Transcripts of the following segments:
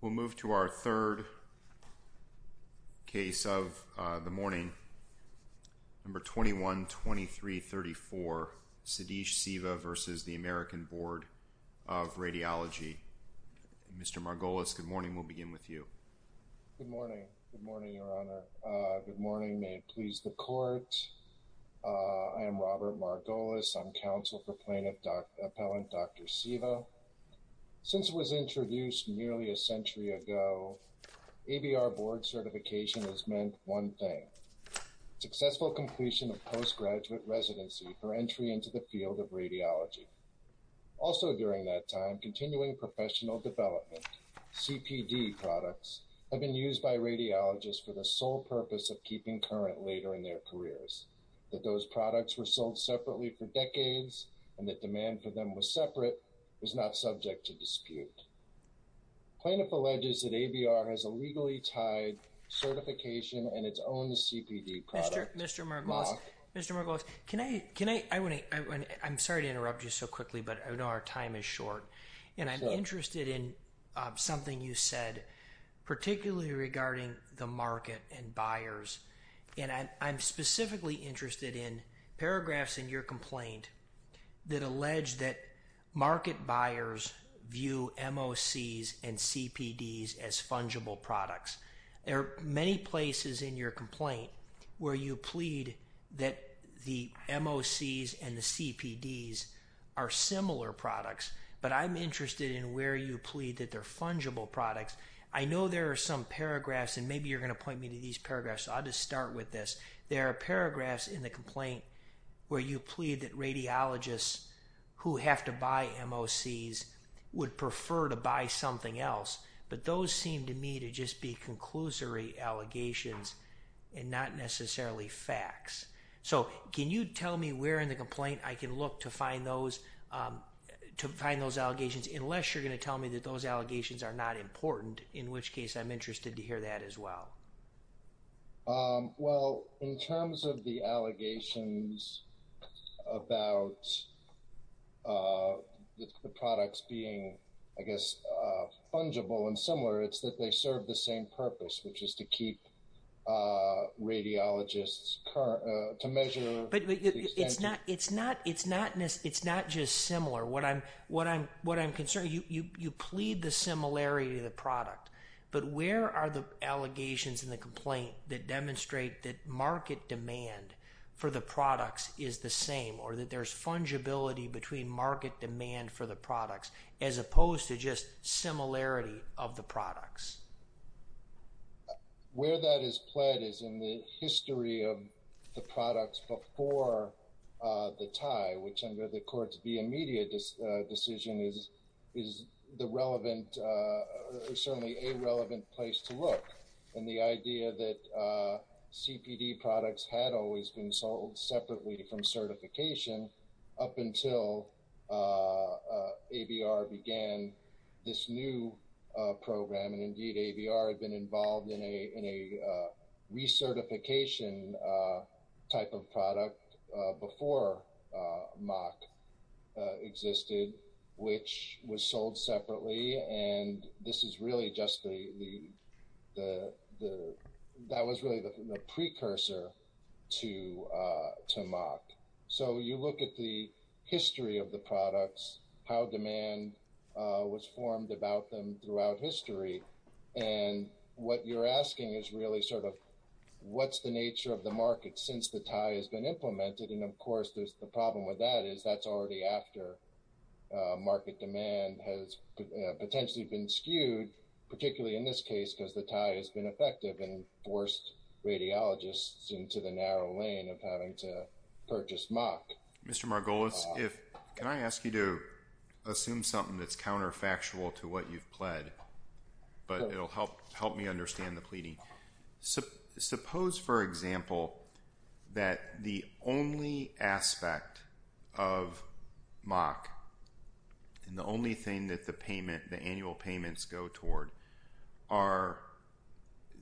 We'll move to our third case of the morning, number 21-23-34, Sadhish Siva v. American Board of Radiology. Mr. Margolis, good morning. We'll begin with you. Good morning. Good morning, Your Honor. Good morning. May it please the Court. I am Robert Margolis. I'm counsel for plaintiff appellant Dr. Siva. Since it was introduced nearly a century ago, ABR board certification has meant one thing, successful completion of postgraduate residency for entry into the field of radiology. Also during that time, continuing professional development, CPD products have been used by radiologists for the sole purpose of keeping current later in their careers. That those not subject to dispute. Plaintiff alleges that ABR has a legally tied certification and its own CPD product. Mr. Margolis, Mr. Margolis, can I, can I, I want to, I'm sorry to interrupt you so quickly, but I know our time is short and I'm interested in something you said, particularly regarding the market and buyers. And I'm specifically interested in paragraphs in your complaint that allege that market buyers view MOCs and CPDs as fungible products. There are many places in your complaint where you plead that the MOCs and the CPDs are similar products, but I'm interested in where you plead that they're fungible products. I know there are some paragraphs, and maybe you're going to point me to these paragraphs, so I'll just start with this. There are paragraphs in the complaint where you plead that radiologists who have to buy MOCs would prefer to buy something else, but those seem to me to just be conclusory allegations and not necessarily facts. So can you tell me where in the complaint I can look to find those, to find those allegations, unless you're going to tell me that those allegations are not important, in which case I'm interested to hear that as well. Well, in terms of the allegations about the products being, I guess, fungible and similar, it's that they serve the same purpose, which is to keep radiologists current, to measure... It's not, it's not, it's not, it's not just similar. What I'm, what I'm, what I'm concerned, you plead the similarity of the product, but where are the allegations in the complaint that demonstrate that market demand for the products is the same, or that there's fungibility between market demand for the products, as opposed to just similarity of the products? Where that is pled is in the history of the products before the tie, which under the court's immediate decision is, is the relevant, certainly a relevant place to look. And the idea that CPD products had always been sold separately from certification up until ABR began this new program, and indeed ABR had been involved in a, in a recertification type of product before MOC existed, which was sold separately. And this is really just the, the, the, that was really the precursor to, to MOC. So you look at the history of the products, how demand was formed about them throughout history. And what you're asking is really sort of, what's the nature of the market since the tie has been implemented? And of course, there's the problem with that is that's already after market demand has potentially been skewed, particularly in this case, because the tie has been effective and forced radiologists into the narrow lane of having to purchase MOC. Mr. Margolis, if, can I ask you to assume something that's counterfactual to what you've pled, but it'll help, help me understand the example. Suppose, for example, that the only aspect of MOC and the only thing that the payment, the annual payments go toward are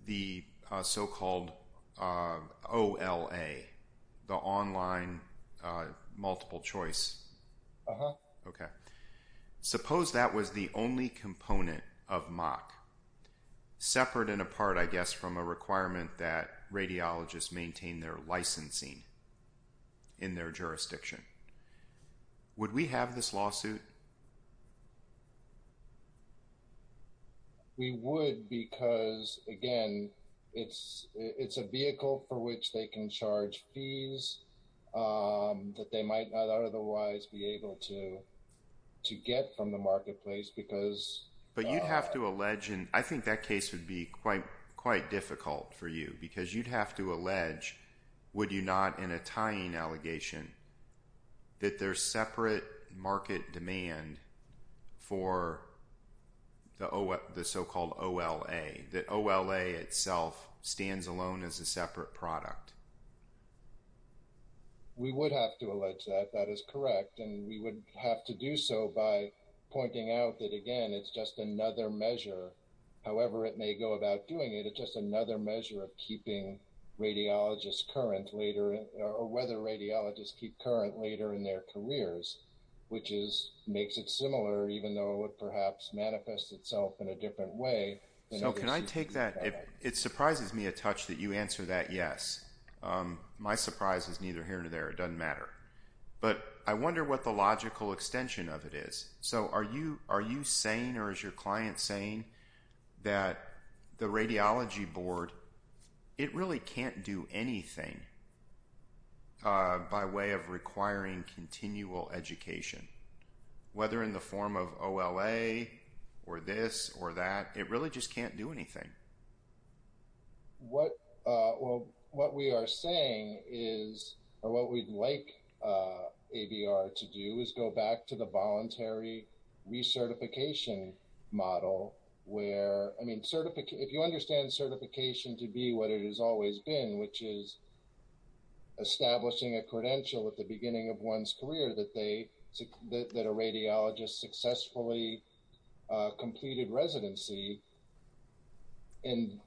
the so-called OLA, the online multiple choice. Okay. Suppose that was the only component of MOC separate and apart, I guess, from a requirement that radiologists maintain their licensing in their jurisdiction. Would we have this lawsuit? We would, because again, it's, it's a vehicle for which they can charge fees that they might not otherwise be able to, to get from the marketplace because. But you'd have to allege, and I think that case would be quite, quite difficult for you because you'd have to allege, would you not, in a tying allegation that there's separate market demand for the O, the so-called OLA, the OLA itself stands alone as a separate product. We would have to allege that, that is correct. And we would have to do so by pointing out that, again, it's just another measure, however it may go about doing it. It's just another measure of radiologists current later or whether radiologists keep current later in their careers, which is, makes it similar, even though it perhaps manifests itself in a different way. So can I take that? It surprises me a touch that you answer that. Yes. My surprise is neither here nor there. It doesn't matter, but I wonder what the logical extension of it is. So are you, are you saying, or is your client saying that the radiology board, it really can't do anything by way of requiring continual education, whether in the form of OLA or this or that, it really just can't do anything. What, well, what we are saying is, or what we'd like ABR to do is go back to the voluntary recertification model where, I mean, if you understand certification to be what it has always been, which is establishing a credential at the beginning of one's career that they, that a radiologist successfully completed residency and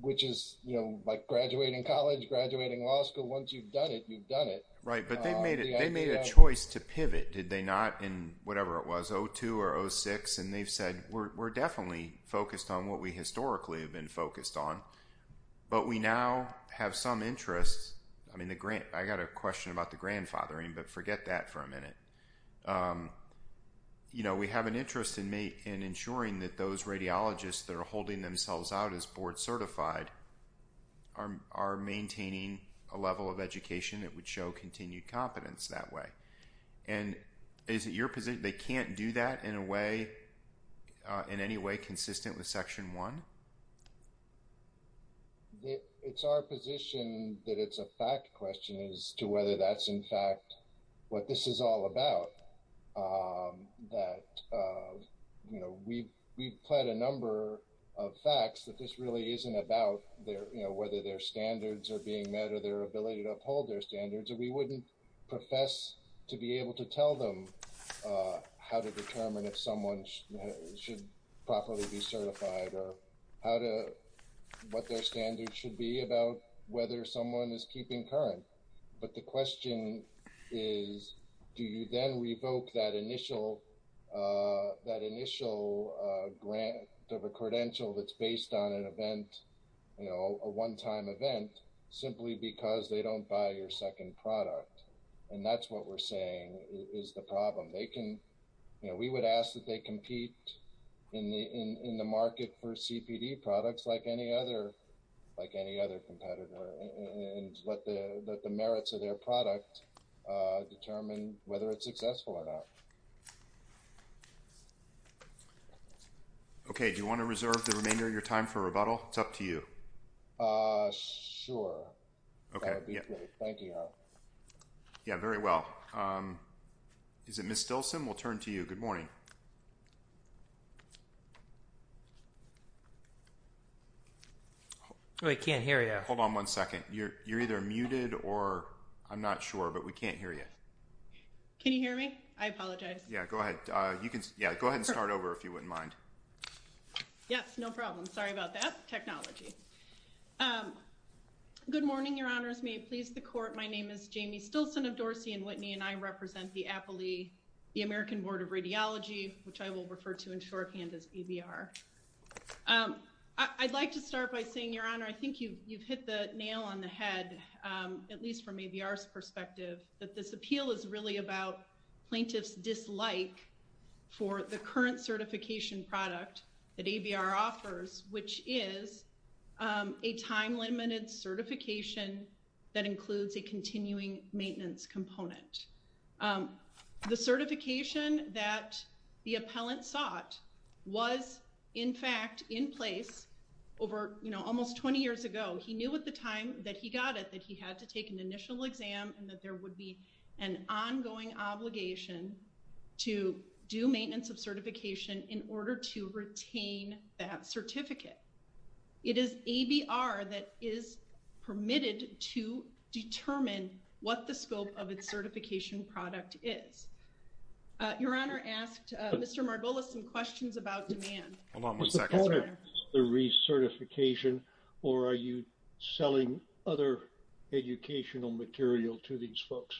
which is, you know, like graduating college, graduating law school, once you've done it, you've done it. Right. But they made it, they made a choice to pivot. Did they not in whatever it was O2 or O6. And they've said, we're definitely focused on what we historically have been focused on, but we now have some interests. I mean, the grant, I got a question about the grandfathering, but forget that for a minute. You know, we have an interest in me and ensuring that those radiologists that are holding themselves out as board certified are, are maintaining a level of education that would show continued competence that way. And is it your position, they can't do that in a way, in any way consistent with section one? It's our position that it's a fact question as to whether that's in fact what this is all about. That, you know, we've, we've pled a number of facts that this really isn't about their, you know, whether their standards are being met or their ability to uphold their standards, or we wouldn't profess to be able to tell them how to determine if someone should properly be certified or how to, what their standards should be about whether someone is keeping current. But the question is, do you then revoke that initial, that initial grant of a credential that's based on an event, you know, a one-time event simply because they don't buy your second product? And that's what we're saying is the problem. They can, you know, we would ask that they compete in the, in the market for CPD products like any other, like any other competitor and let the, let the merits of their product determine whether it's successful or not. Okay. Do you want to reserve the remainder of your time for rebuttal? It's up to you. Uh, sure. Okay. Yeah. Thank you. Yeah. Very well. Um, is it Ms. Stilson? We'll turn to you. Good morning. I can't hear you. Hold on one second. You're, you're either muted or I'm not sure, but we can't hear you. Can you hear me? I apologize. Yeah, go ahead. Uh, you can, yeah, go ahead and start over if you wouldn't mind. Yes. No problem. Sorry about that. Technology. Um, good morning, your honors. May it please the court. My name is Jamie Stilson of Dorsey and Whitney, and I represent the Appley, the American Board of Radiology, which I will refer to in shorthand as ABR. Um, I'd like to start by saying your honor, I think you've, you've hit the nail on the head, um, at least from ABR's perspective, that this appeal is really about plaintiff's like for the current certification product that ABR offers, which is, um, a time limited certification that includes a continuing maintenance component. Um, the certification that the appellant sought was in fact in place over, you know, almost 20 years ago. He knew at the time that he got it, that he had to take an initial exam and that there would be an ongoing obligation to do maintenance of certification in order to retain that certificate. It is ABR that is permitted to determine what the scope of its certification product is. Uh, your honor asked, Mr. Margolis, some questions about demand, the recertification, or are you selling other educational material to these folks?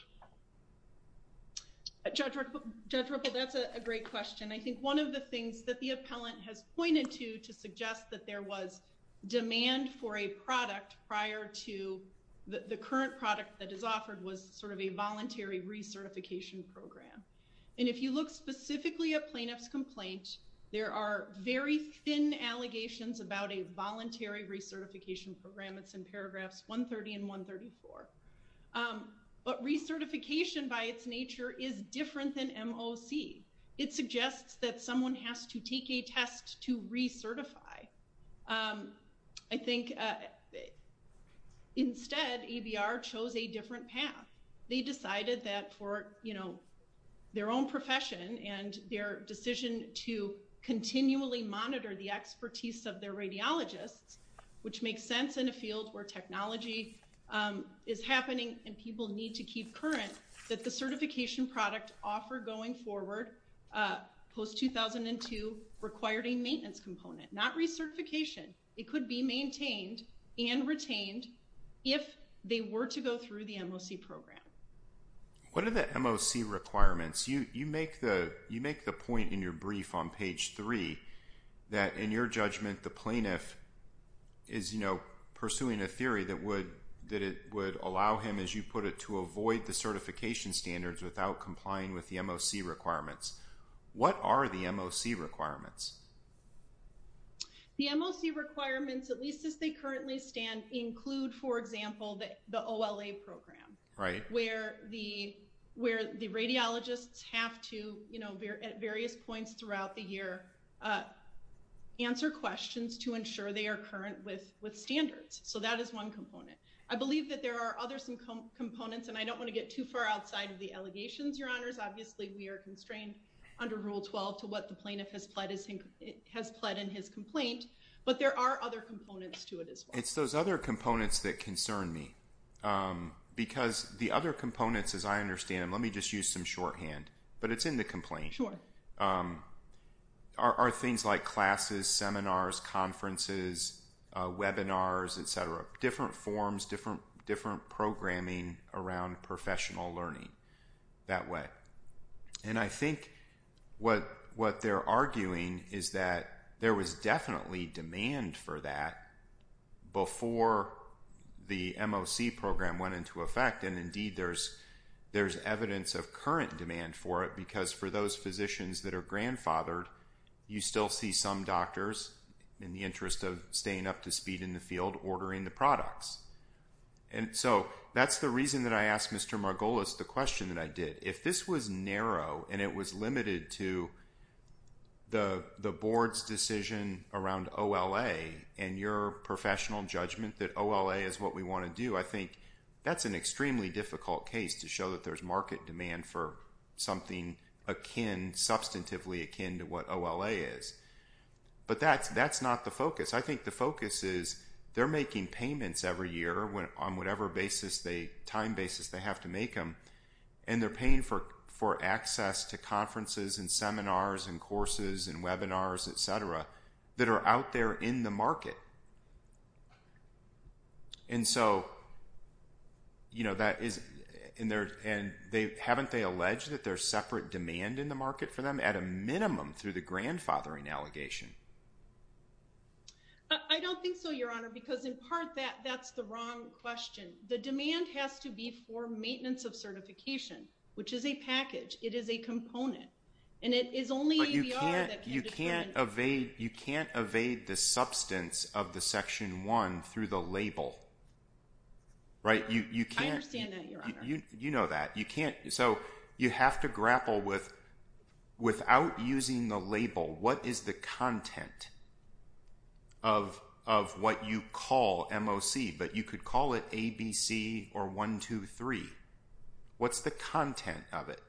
Judge Ripple, that's a great question. I think one of the things that the appellant has pointed to to suggest that there was demand for a product prior to the current product that is offered was sort of a voluntary recertification program. And if you look specifically at plaintiff's complaint, there are very thin allegations about a voluntary recertification program. It's in paragraphs 130 and 134. Um, but recertification by its nature is different than MOC. It suggests that someone has to take a test to recertify. Um, I think, uh, instead ABR chose a different path. They decided that for, you know, their own profession and their decision to continually monitor the expertise of their radiologists, which makes sense in a field where technology, um, is happening and people need to keep current that the certification product offer going forward, uh, post 2002 required a maintenance component, not recertification. It could be maintained and retained if they were to go the MOC program. What are the MOC requirements? You, you make the, you make the point in your brief on page three that in your judgment, the plaintiff is, you know, pursuing a theory that would, that it would allow him as you put it to avoid the certification standards without complying with the MOC requirements. What are the MOC requirements? The MOC requirements, at least as they currently stand include, for example, that the OLA program, right? Where the, where the radiologists have to, you know, at various points throughout the year, uh, answer questions to ensure they are current with, with standards. So that is one component. I believe that there are others and components, and I don't want to get too far outside of the allegations. Your honors, obviously we are constrained under rule 12 to what the plaintiff has pledged. It has pled in his complaint, but there are other components to it as well. It's those other components that concern me, um, because the other components, as I understand them, let me just use some shorthand, but it's in the complaint. Sure. Um, are, are things like classes, seminars, conferences, uh, webinars, et cetera, different forms, different, different programming around professional learning that way. And I think what, what they're arguing is that there was definitely demand for that before the MOC program went into effect. And indeed there's, there's evidence of current demand for it because for those physicians that are grandfathered, you still see some doctors in the interest of staying up to speed in the field, ordering the question that I did. If this was narrow and it was limited to the, the board's decision around OLA and your professional judgment that OLA is what we want to do. I think that's an extremely difficult case to show that there's market demand for something akin, substantively akin to what OLA is, but that's, that's not the focus. I think the focus is they're making payments every year when on whatever basis they time basis they have to make them and they're paying for, for access to conferences and seminars and courses and webinars, et cetera, that are out there in the market. And so, you know, that is in there and they haven't, they allege that there's separate demand in the market for them at a minimum through the grandfathering allegation. I don't think so, your honor, because in part that that's the wrong question. The demand has to be for maintenance of certification, which is a package. It is a component and it is only, you can't, you can't evade, you can't evade the substance of the section one through the label, right? You, you can't, you know that you can't. So you have to grapple with, without using the label, what is the content of, of what you call MOC, but you could call it ABC or one, two, three. What's the content of it?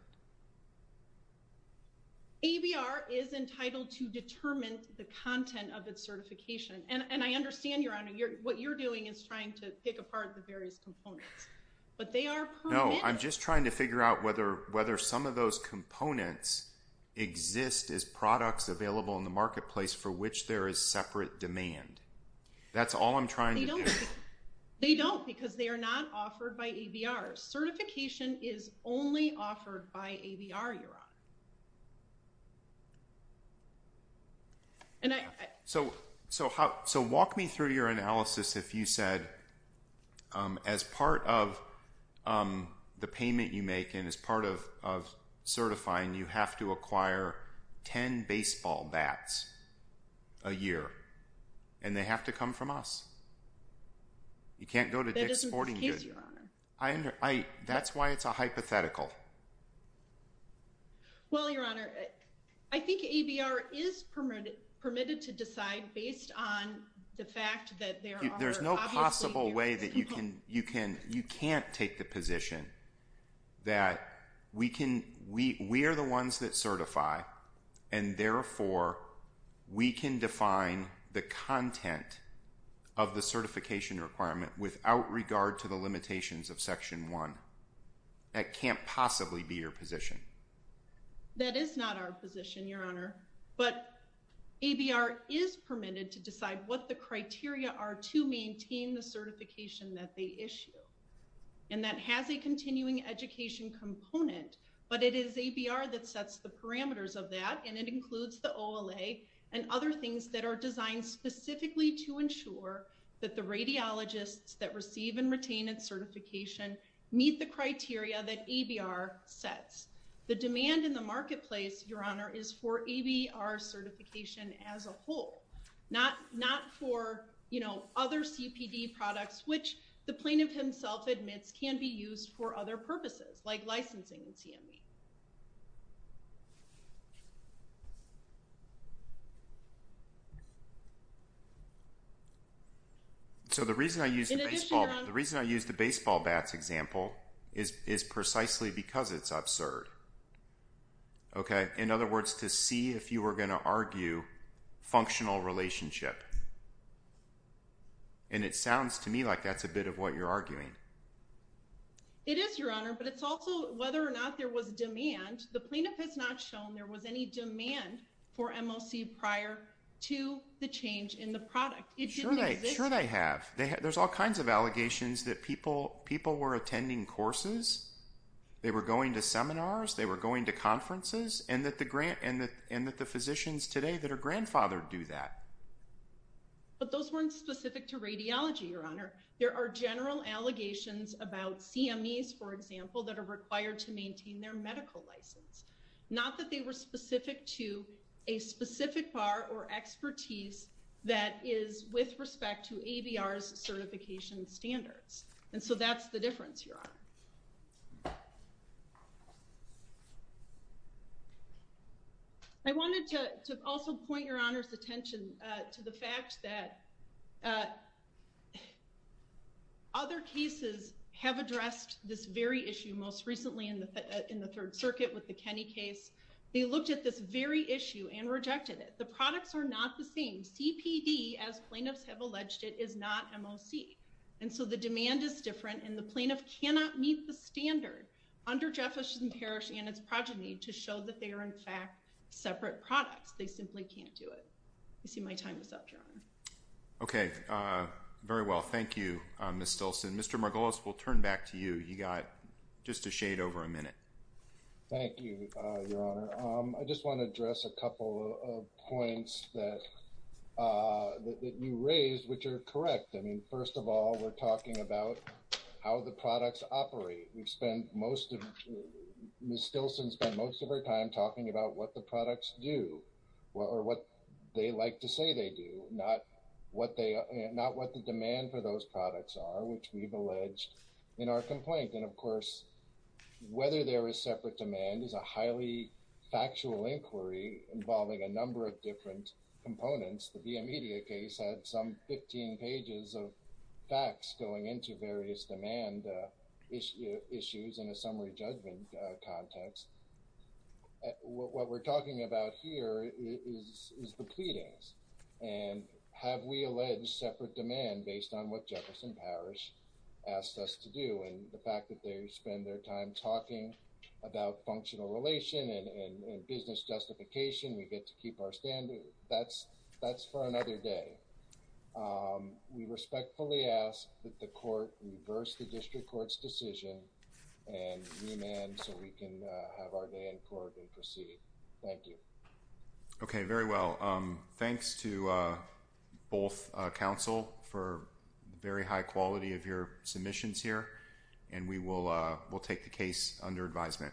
ABR is entitled to determine the content of its certification. And I understand your honor, what you're doing is trying to pick apart the various components, but they are. No, I'm just trying to figure out whether, whether some of those components exist as products available in the marketplace for which there is separate demand. That's all I'm trying. They don't because they are not offered by ABR. Certification is only offered by ABR, your honor. And I, so, so how, so walk me through your analysis. If you said, um, as part of, um, the payment you make and as part of, of certifying, you have to acquire 10 baseball bats a year and they have to come from us. You can't go to Dick's Sporting Goods. I under, I, that's why it's a hypothetical. Well, your honor, I think ABR is permitted, permitted to decide based on the fact that there are, there's no possible way that you can, you can, you can't take the position that we can, we, we are the ones that certify and therefore we can define the content of the certification requirement without regard to the limitations of section one that can't possibly be your position. That is not our position, your honor, but ABR is permitted to decide what the criteria are to maintain the certification that they issue. And that has a continuing education component, but it is ABR that sets the parameters of that. And it includes the OLA and other things that are designed specifically to ensure that the radiologists that receive and retain its certification meet the criteria that ABR sets. The demand in the marketplace, your honor, is for ABR certification as a whole, not, not for, you know, other CPD products, which the plaintiff himself admits can be used for other purposes like licensing and CME. So the reason I use the baseball, the reason I use the baseball bats example is, is precisely because it's absurd. Okay. In other words, to see if you were going to argue functional relationship. And it sounds to me like that's a bit of what you're arguing. It is your honor, but it's also whether or not there was demand. The plaintiff has not shown there was any demand for MLC prior to the change in the product. It didn't exist. There's all kinds of allegations that people, people were attending courses. They were going to seminars. They were going to conferences and that the grant and that, and that the physicians today that are grandfathered do that. But those weren't specific to radiology, your honor. There are general allegations about CMEs, for example, that are required to maintain their medical license. Not that they were specific to a specific bar or expertise that is with respect to certification standards. And so that's the difference. I wanted to also point your honor's attention to the fact that other cases have addressed this very issue. Most recently in the, in the third circuit with the Kenny case, they looked at this very issue and rejected it. The products are not the same CPD as plaintiffs have alleged it is not MLC. And so the demand is different and the plaintiff cannot meet the standard under Jefferson Parish and its progeny to show that they are in fact separate products. They simply can't do it. I see my time is up, John. Okay. Very well. Thank you, Ms. Stilson. Mr. Margolis, we'll turn back to you. You got just a shade over a minute. Thank you, your honor. I just want to address a couple of points that, that you raised, which are correct. I mean, first of all, we're talking about how the products operate. We've spent most of Ms. Stilson spent most of her time talking about what the products do or what they like to say they do not what they, not what the demand for those products are, which we've alleged in our complaint. And of course, whether there is separate demand is a highly factual inquiry involving a number of different components. The media case had some 15 pages of facts going into various demand issues in a summary judgment context. What we're talking about here is the pleadings and have we alleged separate demand based on what Jefferson Parish asked us to do. And the fact that they spend their time talking about functional relation and business justification, we get to keep our standard. That's that's for another day. We respectfully ask that the court reverse the district court's decision and remand so we can have our day in court and proceed. Thank you. Okay. Very well. Thanks to both counsel for very high quality of your submissions here. And we will we'll take the case under advisement.